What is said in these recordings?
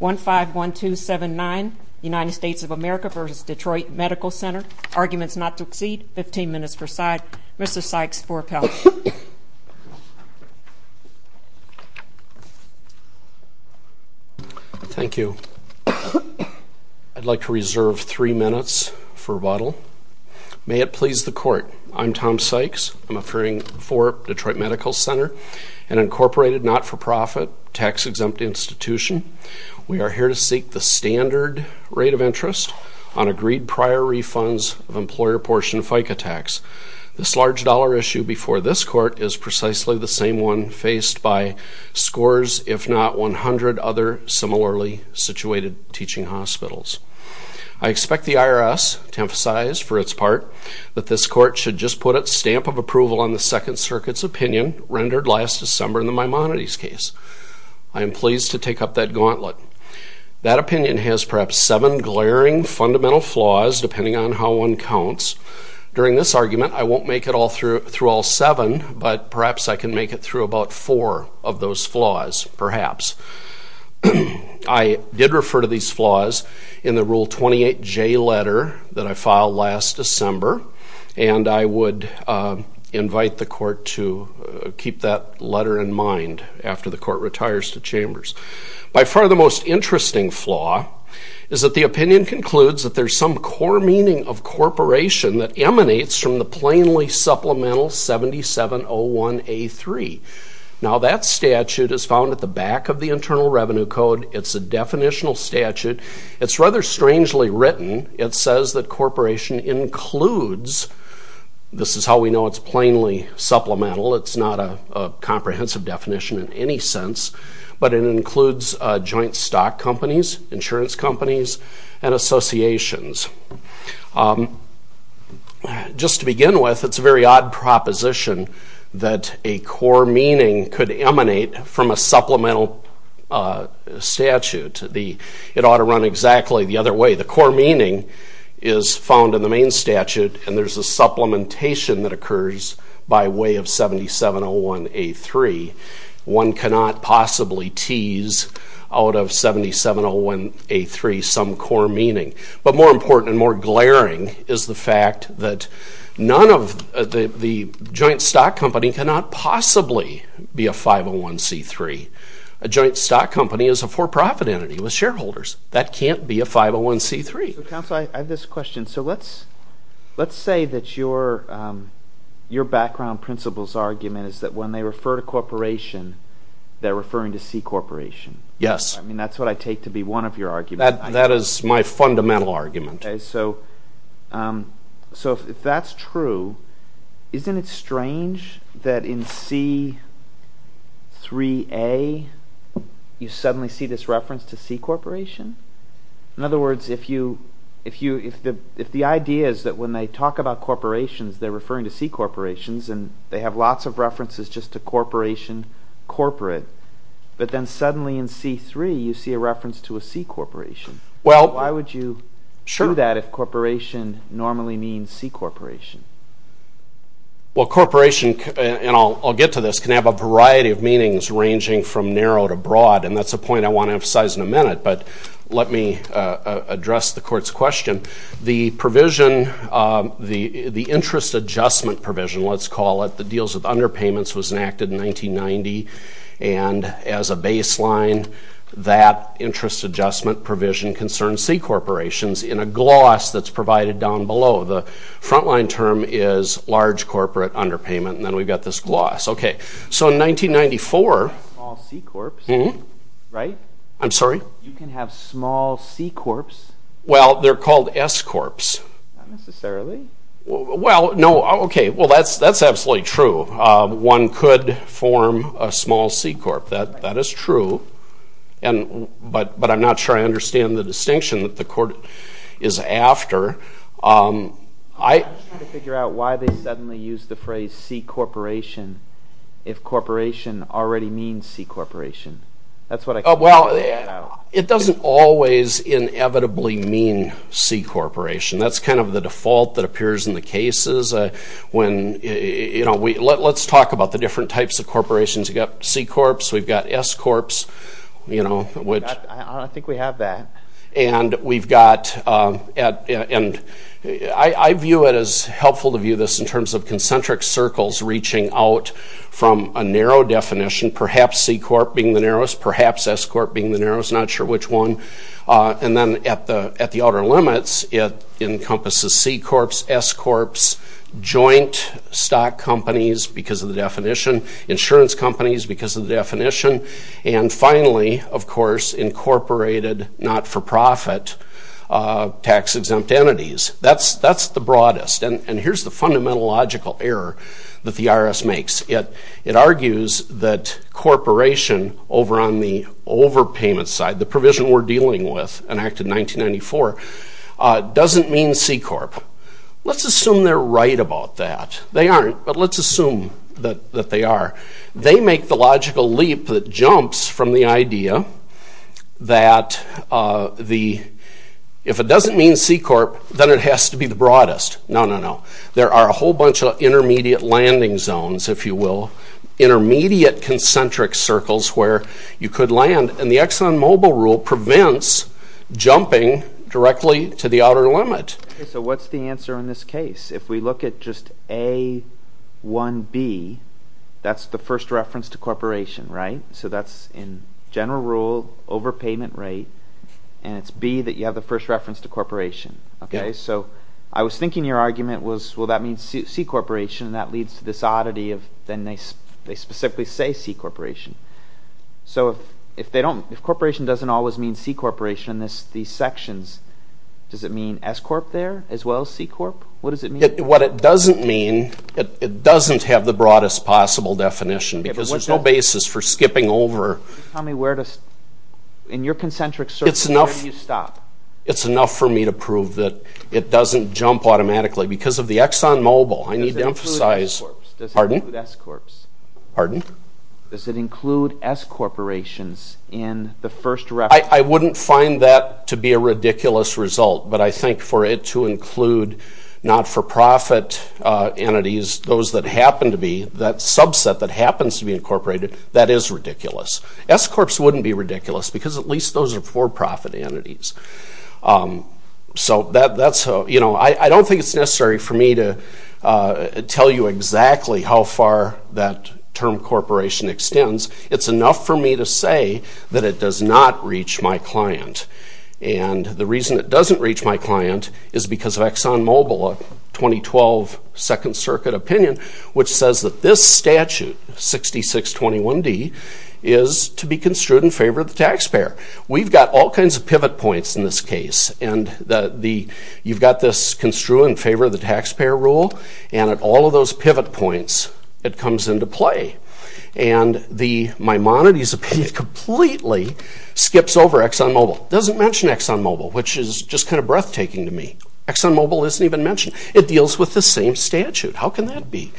1-5-1-2-7-9 United States of America v. Detroit Medical Center. Arguments not to exceed 15 minutes per side. Mr. Sykes for appellation. Thank you. I'd like to reserve three minutes for rebuttal. May it please the court. I'm Tom Sykes. I'm appearing for Detroit Medical Center, an incorporated not-for-profit tax exempt institution. We are here to seek the standard rate of interest on agreed prior refunds of employer portion FICA tax. This large dollar issue before this court is precisely the same one faced by scores if not 100 other similarly situated teaching hospitals. I expect the IRS to emphasize for its part that this court should just put its stamp of approval on the Second Circuit's opinion rendered last December in the Maimonides case. I am pleased to take up that gauntlet. That opinion has perhaps seven glaring fundamental flaws depending on how one counts. During this argument I won't make it all through through all seven but perhaps I can make it through about four of those flaws perhaps. I did refer to these flaws in the Rule 28J letter that I filed last December and I would invite the court to keep that letter in mind after the court retires to Chambers. By far the most interesting flaw is that the opinion concludes that there's some core meaning of corporation that emanates from the plainly supplemental 7701A3. Now that statute is found at the back of the Internal Revenue Code. It's a definitional statute. It's rather strangely written. It says that corporation includes, this is how we know it's plainly supplemental, it's not a comprehensive definition in any sense, but it includes joint stock companies, insurance companies, and associations. Just to begin with it's a very odd proposition that a core meaning could emanate from a supplemental statute. It ought to run exactly the other way. The core meaning is found in the main statute and there's a supplementation that occurs by way of 7701A3. One cannot possibly tease out of 7701A3 some core meaning. But more important and more glaring is the fact that the joint stock company cannot possibly be a 501C3. A joint stock company is a for-profit entity with shareholders. That can't be a 501C3. Counselor, I have this question. So let's say that your background principles argument is that when they refer to corporation they're referring to C corporation. Yes. I mean that's what I take to be one of your arguments. That is my fundamental argument. So if that's true, isn't it strange that in C3A you suddenly see this reference to C corporation? In other words, if the idea is that when they talk about corporations they're referring to C corporations and they have lots of references just to corporation corporate, but then suddenly in C3 you see a reference to a C corporation. Well, why would you show that if corporation normally means C corporation? Well corporation, and I'll get to this, can have a variety of meanings ranging from narrow to broad and that's a point I want to emphasize in a minute, but let me address the court's question. The provision, the interest adjustment provision, let's call it, the deals with underpayments was enacted in 1990 and as a baseline that interest adjustment provision concerns C corporations in a gloss that's provided down below. The frontline term is large corporate underpayment and then we've got this gloss. Okay, so in 1994, I'm sorry, you can have small C corps. Well, they're called S corps. Well, no, okay, well that's that's absolutely true. One could form a and but but I'm not sure I understand the distinction that the court is after. I figure out why they suddenly use the phrase C corporation if corporation already means C corporation. That's what I thought. Well, it doesn't always inevitably mean C corporation. That's kind of the default that appears in the cases when, you know, we let's talk about the different types of corporations. You got S corps, you know, which I think we have that, and we've got and I view it as helpful to view this in terms of concentric circles reaching out from a narrow definition, perhaps C corp being the narrowest, perhaps S corp being the narrowest, not sure which one, and then at the at the outer limits it encompasses C corps, S corps, joint stock companies because of the definition, insurance companies because of the definition, and finally, of course, incorporated not-for-profit tax-exempt entities. That's that's the broadest, and here's the fundamental logical error that the IRS makes. It argues that corporation over on the overpayment side, the provision we're dealing with, enacted 1994, doesn't mean C corp. Let's assume they're right about that. They aren't, but let's assume that they are. They make the logical leap that jumps from the idea that the, if it doesn't mean C corp, then it has to be the broadest. No, no, no. There are a whole bunch of intermediate landing zones, if you will, intermediate concentric circles where you could land, and the Exxon Mobil rule prevents jumping directly to the outer limit. So what's the answer in this case? If we look at just A, 1B, that's the first reference to corporation, right? So that's in general rule, overpayment rate, and it's B that you have the first reference to corporation, okay? So I was thinking your argument was, well, that means C corporation, and that leads to this oddity of then they specifically say C corporation. So if they don't, if corporation doesn't always mean C corporation in these sections, does it mean S corp there as well as C corp? What it doesn't mean, it doesn't have the broadest possible definition, because there's no basis for skipping over. Tell me where to, in your concentric circle, where do you stop? It's enough for me to prove that it doesn't jump automatically, because of the Exxon Mobil, I need to emphasize, pardon? Does it include S corps? Pardon? Does it include S corporations in the first reference? I wouldn't find that to be a ridiculous result, but I think for it to include not-for-profit entities, those that happen to be, that subset that happens to be incorporated, that is ridiculous. S corps wouldn't be ridiculous, because at least those are for-profit entities. So that's how, you know, I don't think it's necessary for me to tell you exactly how far that term corporation extends. It's enough for me to say that it does not reach my client, and the reason it doesn't reach my client is because of Exxon Mobil, a 2012 Second Circuit opinion, which says that this statute, 6621d, is to be construed in favor of the taxpayer. We've got all kinds of pivot points in this case, and you've got this construed in favor of the taxpayer rule, and at all of those pivot points, it comes into play. And the Maimonides opinion completely skips over Exxon Mobil. It doesn't mention Exxon Mobil, which is just kind of breathtaking to me. Exxon Mobil isn't even mentioned. It deals with the same statute. How can that be?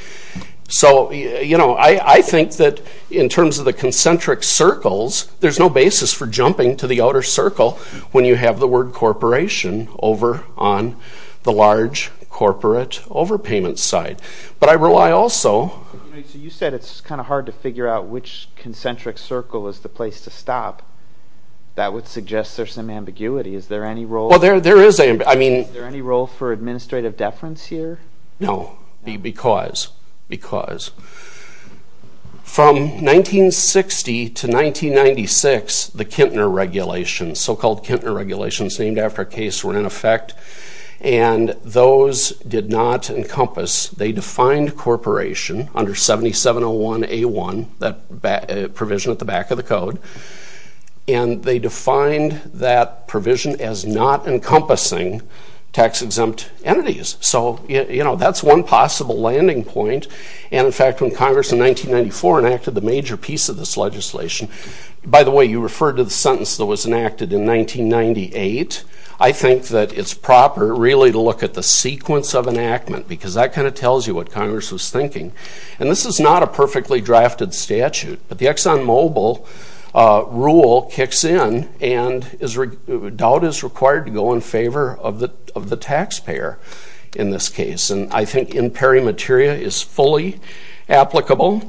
So, you know, I think that in terms of the concentric circles, there's no basis for jumping to the outer circle when you have the word corporation over on the large corporate overpayment side. But I rely also, you said it's kind of hard to figure out which concentric circle is the place to stop. That would suggest there's some ambiguity. Is there any role for administrative deference here? No. Because. Because. From 1960 to 1996, the Kintner regulations, so-called Kintner regulations, named after a case were in effect, and those did not encompass, they defined corporation under 7701A1, that provision at the back of the code, and they defined that provision as not encompassing tax-exempt entities. So, you know, that's one possible landing point. And in fact, when Congress in 1994 enacted the major piece of this legislation, by the way, you referred to the sentence that was enacted in 1998, I think that it's proper really to look at the sequence of enactment, because that kind of tells you what Congress was thinking. And this is not a perfectly drafted statute, but the ExxonMobil rule kicks in and is, doubt is required to go in favor of the taxpayer in this case. And I think in pairing materia is fully applicable.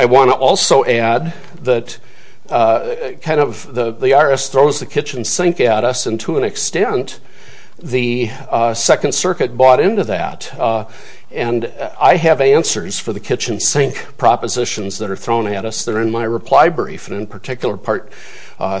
I want to also add that kind of the the IRS throws the kitchen sink at us, and to an extent the Second Circuit bought into that. And I have answers for the kitchen sink propositions that are thrown at us, they're in my reply brief, and in particular part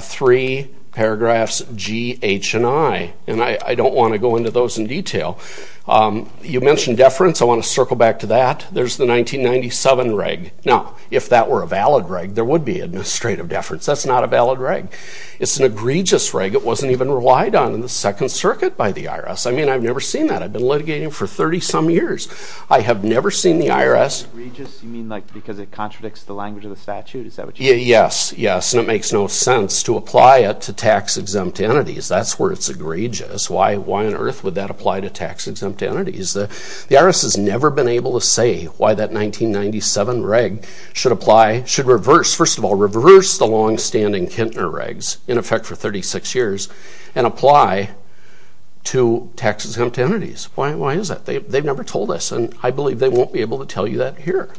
3, paragraphs G, H, and I. And I don't want to go into those in detail. You mentioned deference, I want to circle back to that. There's the 1997 reg. Now, if that were a valid reg, there would be administrative deference. That's not a valid reg. It's an egregious reg, it wasn't even relied on in the Second Circuit by the IRS. I mean, I've never seen that. I've been litigating for 30-some years. I have never seen the IRS... Egregious, you mean like because it contradicts the language of the statute? Yes, yes, and it makes no sense to apply it to tax-exempt entities. That's where it's egregious. Why on earth would that apply to tax-exempt entities? The IRS has never been able to say why that 1997 reg should apply, should reverse, first of all, reverse the long-standing Kintner regs, in effect for 36 years, and apply to tax-exempt entities. Why is that? They've never told us, and I believe they won't be able to tell you that here.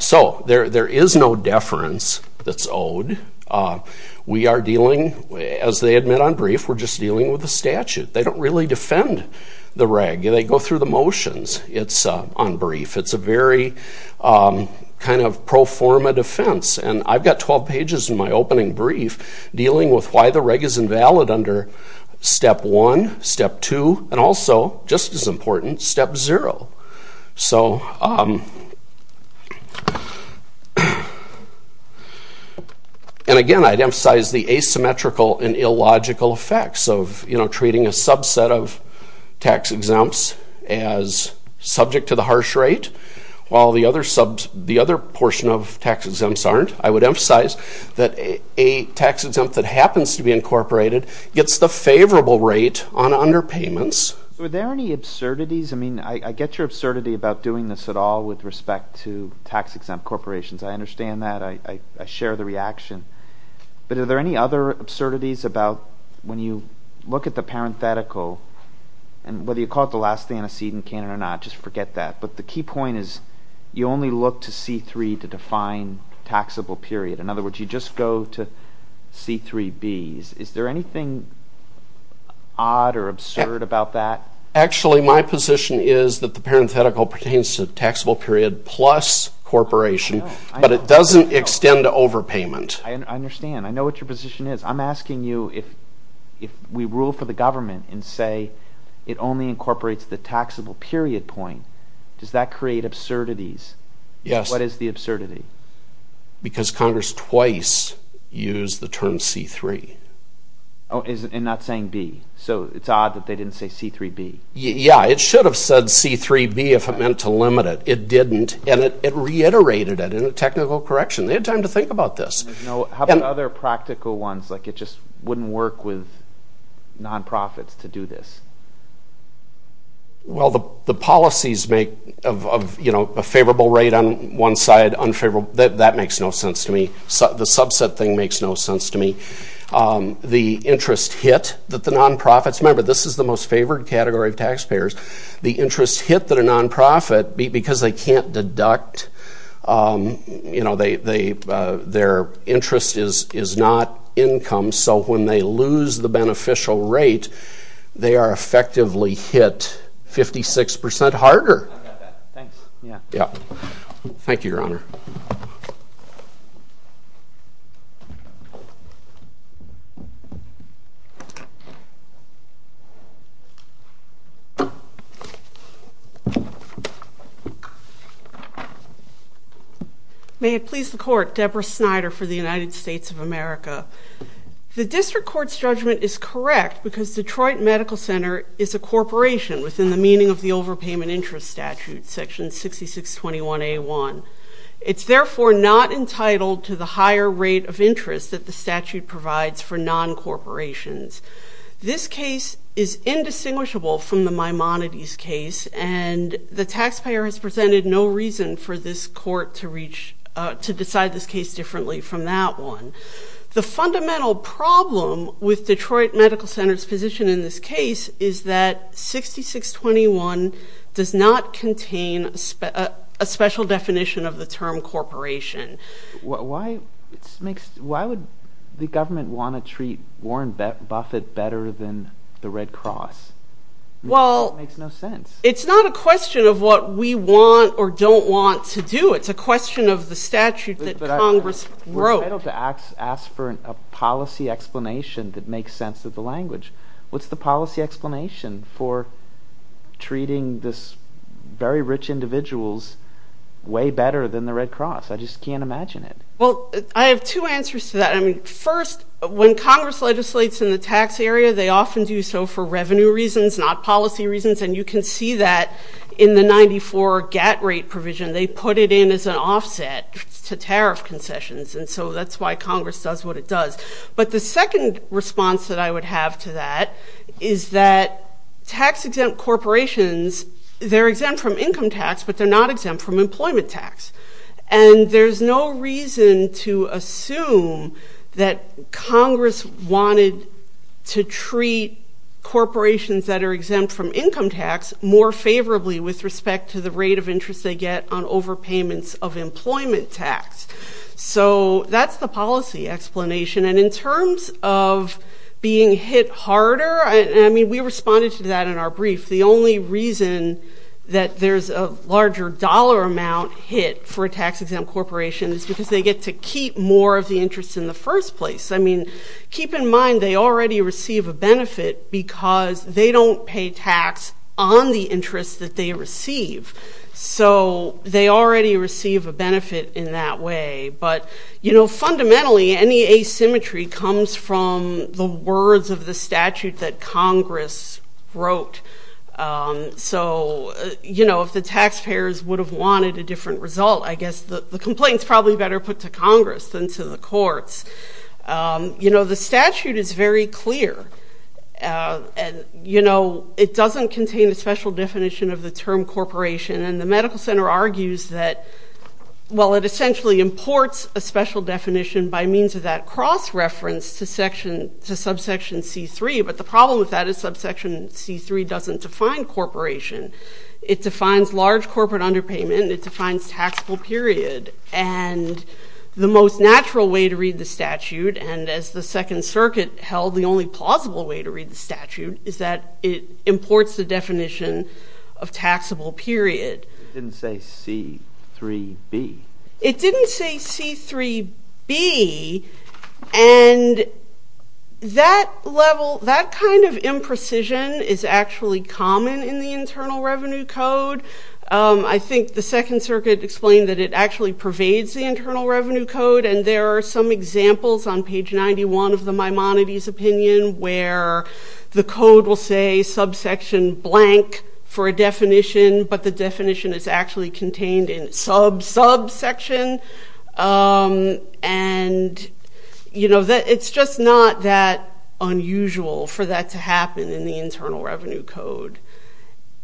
So, there is no deference that's owed. We are dealing, as they admit on brief, we're just dealing with the statute. They don't really defend the reg. They go through the motions. It's on brief. It's a very kind of pro forma defense, and I've got 12 pages in my opening brief dealing with why the reg is invalid under step 1, step 2, and also, just as important, step 0. So, and again, I'd emphasize the asymmetrical and illogical effects of, you know, treating a subset of tax-exempts as subject to the harsh rate, while the other portion of tax-exempts I would emphasize that a tax-exempt that happens to be incorporated gets the favorable rate on underpayments. Were there any absurdities? I mean, I get your absurdity about doing this at all with respect to tax-exempt corporations. I understand that. I share the reaction, but are there any other absurdities about when you look at the parenthetical, and whether you call it the last antecedent can or not, just forget that, but the key point is you only look to C3 to define taxable period. In other words, you just go to C3b's. Is there anything odd or absurd about that? Actually, my position is that the parenthetical pertains to taxable period plus corporation, but it doesn't extend to overpayment. I understand. I know what your position is. I'm asking you if we rule for the government and say it only incorporates the taxable period point, does that because Congress twice used the term C3. Oh, and not saying B, so it's odd that they didn't say C3b. Yeah, it should have said C3b if it meant to limit it. It didn't, and it reiterated it in a technical correction. They had time to think about this. How about other practical ones, like it just wouldn't work with nonprofits to do this? Well, the policies make of, you know, a favorable rate on one side, unfavorable, that makes no sense to me. The subset thing makes no sense to me. The interest hit that the nonprofits, remember this is the most favored category of taxpayers, the interest hit that a nonprofit, because they can't deduct, you know, their interest is not income, so when they lose the beneficial rate, they are effectively hit 56% harder. Yeah, thank you, Your Honor. May it please the Court, Deborah Snyder for the United States of America. The District Court's judgment is correct because Detroit Medical Center is a It's therefore not entitled to the higher rate of interest that the statute provides for non-corporations. This case is indistinguishable from the Maimonides case, and the taxpayer has presented no reason for this court to reach, to decide this case differently from that one. The fundamental problem with Detroit does not contain a special definition of the term corporation. Why would the government want to treat Warren Buffett better than the Red Cross? Well, it's not a question of what we want or don't want to do, it's a question of the statute that Congress wrote. We're entitled to ask for a policy explanation that makes sense of the very rich individuals way better than the Red Cross. I just can't imagine it. Well, I have two answers to that. I mean, first, when Congress legislates in the tax area, they often do so for revenue reasons, not policy reasons, and you can see that in the 94 GAT rate provision, they put it in as an offset to tariff concessions, and so that's why Congress does what it does. But the second response that I would have to that is that tax-exempt corporations, they're exempt from income tax, but they're not exempt from employment tax, and there's no reason to assume that Congress wanted to treat corporations that are exempt from income tax more favorably with respect to the rate of interest they get on overpayments of employment tax. So that's the policy explanation, and in terms of being hit harder, I mean, we responded to that in our brief. The only reason that there's a larger dollar amount hit for a tax-exempt corporation is because they get to keep more of the interest in the first place. I mean, keep in mind they already receive a benefit because they don't pay tax on the interest that they receive, so they already receive a benefit in that way. But, you know, fundamentally, any asymmetry comes from the words of the So, you know, if the taxpayers would have wanted a different result, I guess the complaint's probably better put to Congress than to the courts. You know, the statute is very clear, and, you know, it doesn't contain a special definition of the term corporation, and the Medical Center argues that, well, it essentially imports a special definition by means of that cross-reference to subsection C-3, but the problem with that is subsection C-3 doesn't define corporation. It defines large corporate underpayment, it defines taxable period, and the most natural way to read the statute, and as the Second Circuit held, the only plausible way to read the statute, is that it imports the definition of taxable period. It didn't say C-3B. It didn't say C-3B, and that level, that kind of imprecision is actually common in the Internal Revenue Code. I think the Second Circuit explained that it actually pervades the Internal Revenue Code, and there are some examples on page 91 of the Maimonides opinion, where the code will say subsection blank for a definition, but the definition is actually contained in sub-subsection, and, you know, that it's just not that unusual for that to happen in the Internal Revenue Code,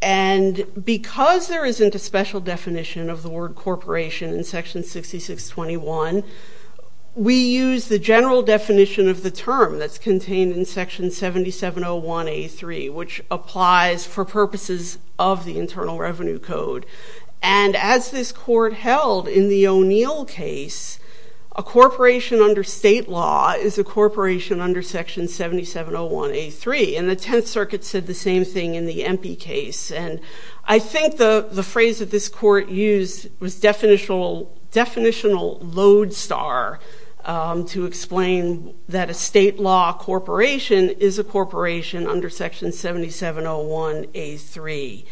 and because there isn't a special definition of the word corporation in section 6621, we use the general definition of the term that's contained in section 7701A3, which applies for purposes of the Internal Revenue Code, and as this court held in the O'Neill case, a corporation under state law is a corporation under section 7701A3, and the Tenth Circuit said the same thing in the Empey case, and I think the phrase that this court used was definitional load star to explain that a state law corporation is a corporation under section 7701A3,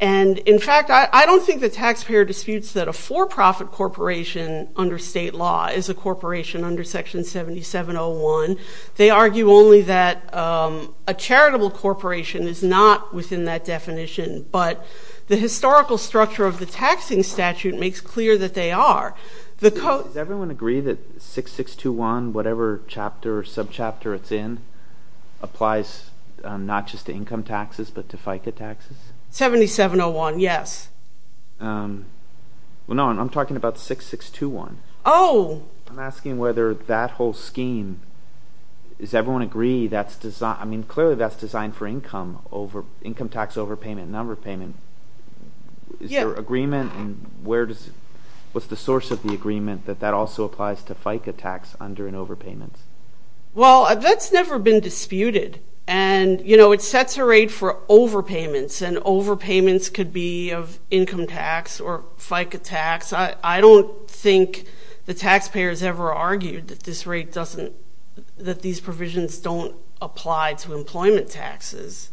and in fact, I don't think the taxpayer disputes that a for-profit corporation under state law is a corporation under section 7701. They argue only that a charitable corporation is not within that definition, but the historical structure of the taxing statute makes clear that they are. Does everyone agree that 6621, whatever chapter or subchapter it's in, applies not just to income tax overpayment and underpayment? Yes. Well, no, I'm talking about 6621. Oh. I'm asking whether that whole scheme, does everyone agree that's designed, I mean, clearly that's designed for income tax overpayment and underpayment. Is there agreement, and where does, what's the source of the agreement that that also applies to FICA tax under and overpayments? Well, that's never been disputed, and you know, it sets a rate for overpayments, and overpayments could be of income tax or FICA tax. I don't think the taxpayers ever argued that this rate doesn't, that these provisions don't apply to employment taxes.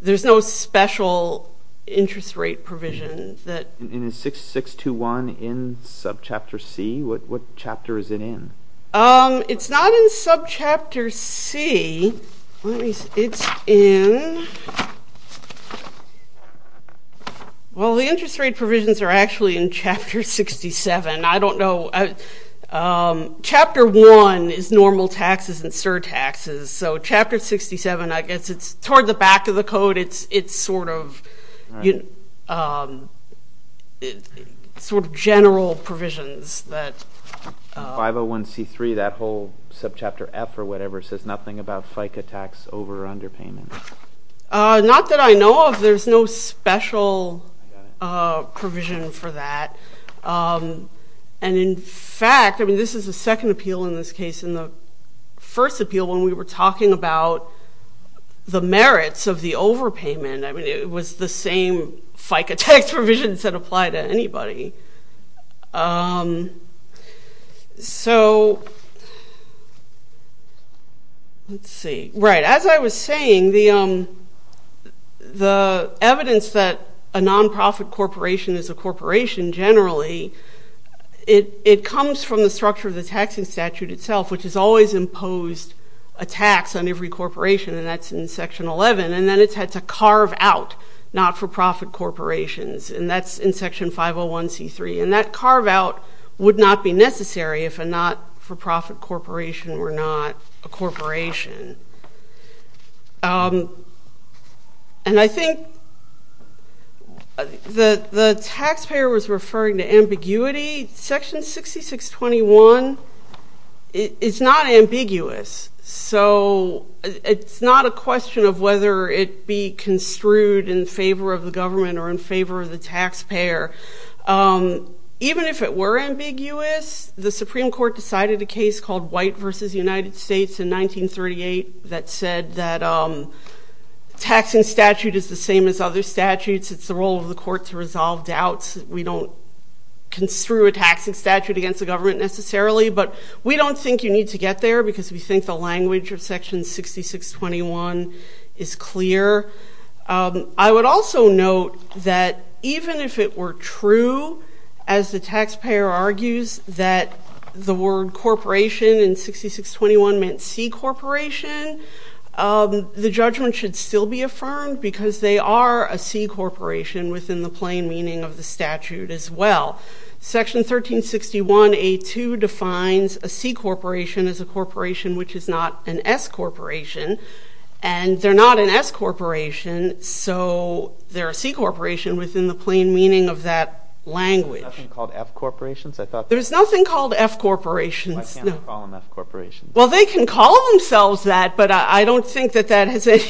There's no special interest rate provision that... And is 6621 in subchapter C? What chapter is it in? It's not in subchapter C. It's in, well, the interest rate provisions are actually in chapter 67. I don't know, chapter 1 is normal taxes and surtaxes, so chapter 67, I guess it's toward the general provisions that... 501c3, that whole subchapter F or whatever, says nothing about FICA tax over or underpayment. Not that I know of. There's no special provision for that, and in fact, I mean, this is the second appeal in this case. In the first appeal, when we were talking about the merits of the overpayment, I mean, it was the same FICA tax provisions that apply to anybody, so, let's see, right, as I was saying, the evidence that a non-profit corporation is a corporation, generally, it comes from the structure of the taxing statute itself, which has always imposed a tax on every corporation, and that's in section 11, and then it's had to carve out not-for-profit corporations, and that's in section 501c3, and that carve-out would not be necessary if a not-for-profit corporation were not a corporation, and I think the taxpayer was referring to ambiguity. Section 6621 is not ambiguous, so it's not a question of whether it be construed in favor of the government or in favor of the taxpayer. Even if it were ambiguous, the Supreme Court decided a case called White v. United States in 1938 that said that taxing statute is the same as other statutes, it's the role of the court to resolve doubts, we don't construe a taxing statute against the government necessarily, but we don't think you need to get there because we think the language of section 6621 is clear. I would also note that even if it were true, as the taxpayer argues that the word corporation in 6621 meant C-corporation, the judgment should still be affirmed because they are a C-corporation within the plain meaning of the statute as well. Section 1361A2 defines a C-corporation as a corporation which is not an S-corporation, and they're not an S-corporation, so they're a C-corporation within the plain meaning of that language. There's nothing called F-corporations? There's nothing called F-corporations. Why can't they call them F-corporations? Well, they can call themselves that, but I don't think that that has any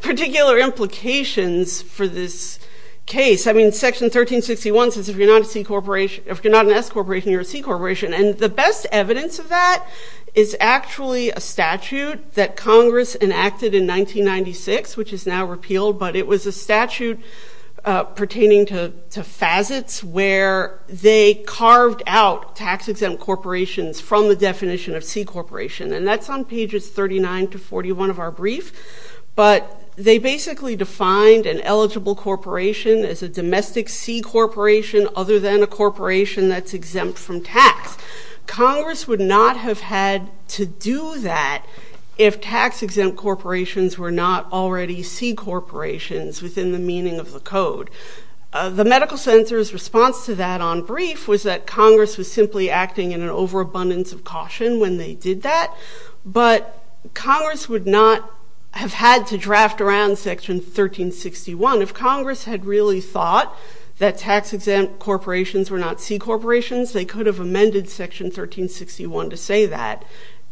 particular implications for this case. I mean, section 1361 says if you're not a C-corporation, if you're not an S-corporation, you're a C-corporation, and the best evidence of that is actually a statute that Congress enacted in 1996, which is now repealed, but it was a statute pertaining to facets where they carved out tax-exempt corporations from the definition of C-corporation, and that's on pages 39 to 41 of our brief, but they basically defined an eligible corporation as a domestic C-corporation other than a corporation that's exempt from tax. Congress would not have had to do that if tax-exempt corporations were not already C-corporations within the meaning of the code. The medical center's response to that on brief was that Congress was simply acting in an overabundance of caution when they did that, but Congress would not have had to draft around section 1361 if Congress had really thought that tax-exempt corporations were not C-corporations. They could have amended section 1361 to say that,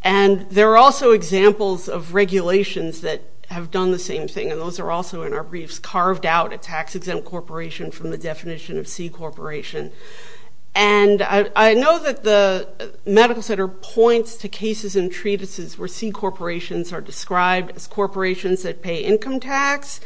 and there are also examples of regulations that have done the same thing, and those are also in our briefs carved out a tax-exempt corporation from the definition of C-corporation, and I know that the medical center points to cases and treatises where C-corporations are described as corporations that pay income tax,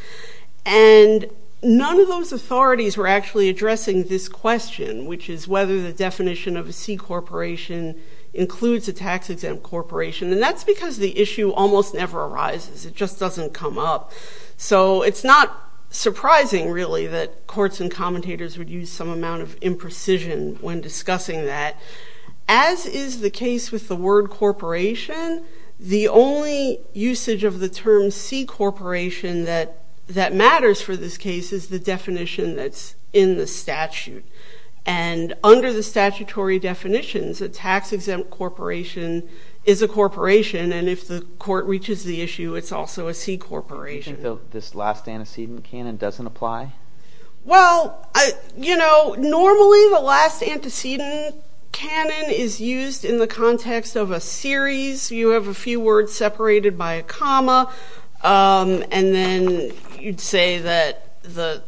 and none of those authorities were actually addressing this question, which is whether the definition of a C-corporation includes a tax-exempt corporation, and that's because the issue almost never arises. It just doesn't come up, so it's not surprising, really, that courts and commentators would use some amount of imprecision when discussing that. As is the case with the word corporation, the only usage of the term C-corporation that matters for this case is the definition that's in the statute, and under the statutory definitions, a tax-exempt corporation is a corporation, and if the court reaches the issue, it's also a C-corporation. Do you think this last antecedent canon doesn't apply? Well, you know, normally the last antecedent canon is used in the context of a series. You have a few words separated by a comma, and then you'd say that the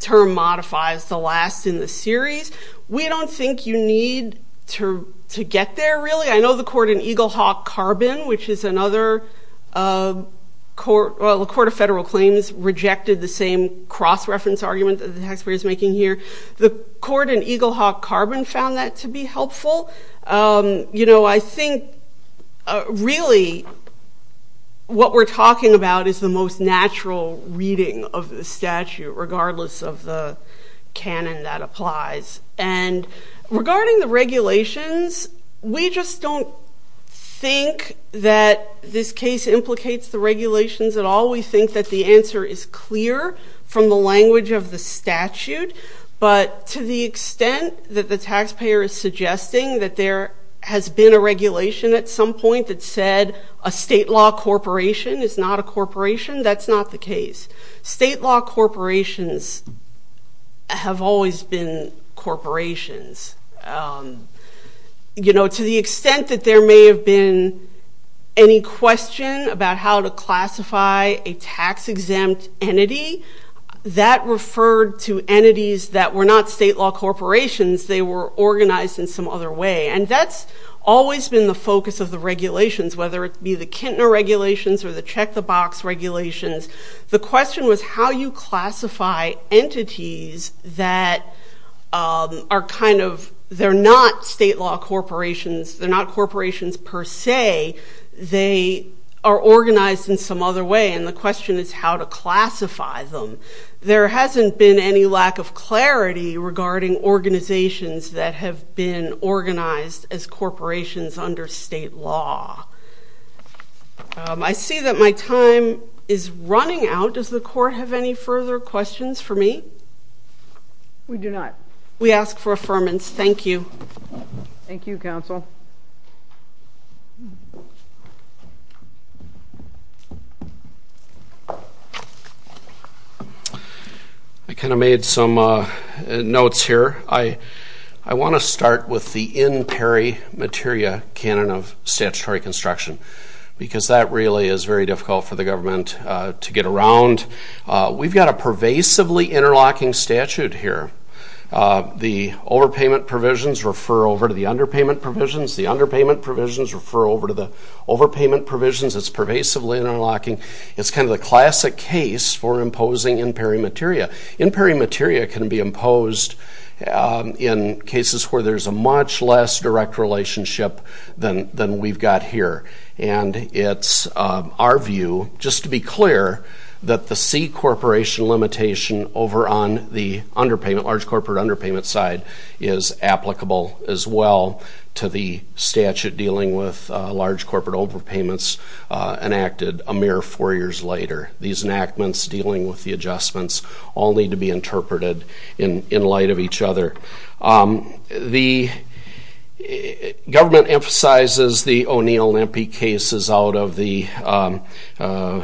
term modifies the last in the series. We don't think you need to get there, really. I know the court in Eaglehawk-Carbon, which is another court of federal claims, rejected the same cross-reference argument that the taxpayer is making here. The court in Eaglehawk-Carbon found that to be helpful. You know, I think really what we're talking about is the most natural reading of the statute, regardless of the canon that applies. And regarding the regulations, we just don't think that this case implicates the regulations at all. We think that the answer is clear from the language of the statute, but to the extent that the taxpayer is suggesting that there has been a regulation at some point that said a state law corporation is not a corporation, that's not the case. State law corporations have always been corporations. You know, to the extent that there may have been any question about how to classify a tax-exempt entity, that referred to entities that were not state law corporations. They were organized in some other way, and that's always been the focus of the regulations, whether it be the Kintner regulations or the check-the-box regulations. The question was how you classify entities that are kind of, they're not state law corporations, they're not corporations per se. They are organized in some other way, and the question is how to classify them. There hasn't been any lack of clarity regarding organizations that have been organized as corporations under state law. I see that my time is running out. Does the court have any further questions for me? We do not. We ask for affirmance. Thank you. Thank you, counsel. I kind of made some notes here. I want to start with the in peri materia canon of statutory construction, because that really is very difficult for the government to get around. We've got a pervasively interlocking statute here. The overpayment provisions refer over to the underpayment provisions. The underpayment provisions refer over to the overpayment provisions. It's pervasively interlocking. It's kind of the classic case for imposing in peri materia. In peri materia can be imposed in cases where there's a much less direct relationship than we've got here, and it's our view, just to be clear, that the C corporation limitation over on the underpayment, large corporate underpayment side, is applicable as well to the statute dealing with large corporate overpayments enacted a mere four years later. These enactments dealing with the adjustments all need to be interpreted in light of each other. The government emphasizes the O'Neill and Impey cases out of the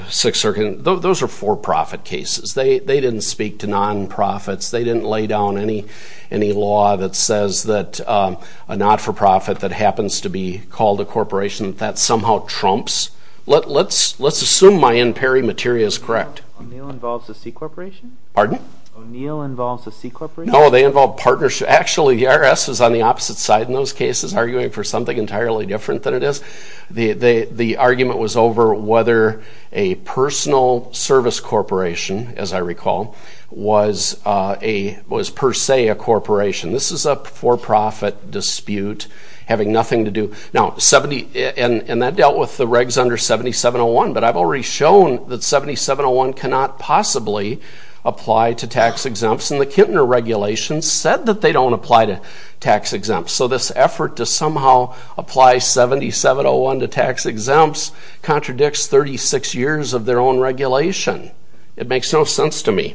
Sixth Circuit. Those are for-profit cases. They didn't speak to nonprofits. They didn't lay down any law that says that a not-for-profit that happens to be called a corporation, that that somehow trumps. Let's assume my Impey materia is correct. O'Neill involves a C corporation? Pardon? O'Neill involves a C corporation? No, they involve partnerships. Actually, the IRS is on the opposite side in those cases, arguing for something entirely different than it is. The argument was over whether a personal service corporation, as I recall, was per se a corporation. This is a for-profit dispute having nothing to do. And that dealt with the regs under 7701, but I've already shown that 7701 cannot possibly apply to tax exempts, and the Kintner regulations said that they don't apply to tax exempts. So this effort to somehow apply 7701 to tax exempts contradicts 36 years of their own regulation. It makes no sense to me.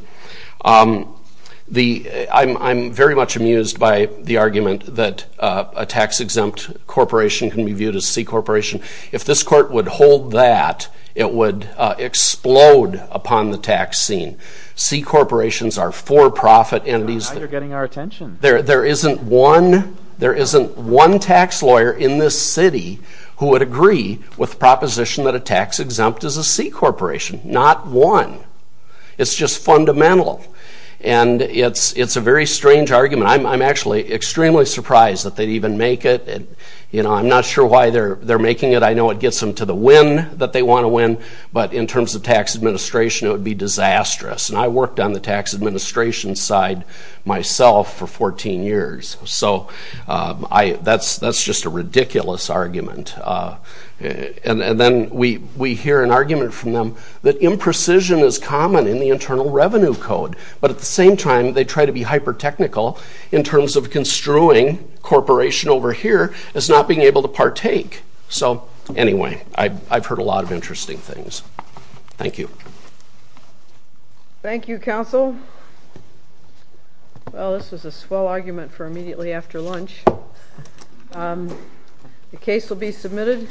I'm very much amused by the argument that a tax-exempt corporation can be viewed as a C corporation. If this court would hold that, it would explode upon the tax scene. C corporations are for-profit entities. Now you're getting our attention. There isn't one tax lawyer in this city who would agree with the proposition that a tax-exempt is a C corporation. Not one. It's just fundamental. And it's a very strange argument. I'm actually extremely surprised that they'd even make it. I'm not sure why they're making it. I know it gets them to the win that they want to win, but in terms of tax administration, it would be disastrous. And I worked on the tax administration side myself for 14 years. So that's just a ridiculous argument. And then we hear an argument from them that imprecision is common in the Internal Revenue Code. But at the same time, they try to be hyper-technical in terms of construing corporation over here as not being able to partake. So anyway, I've heard a lot of interesting things. Thank you. Thank you, counsel. Well, this was a swell argument for immediately after lunch. The case will be submitted.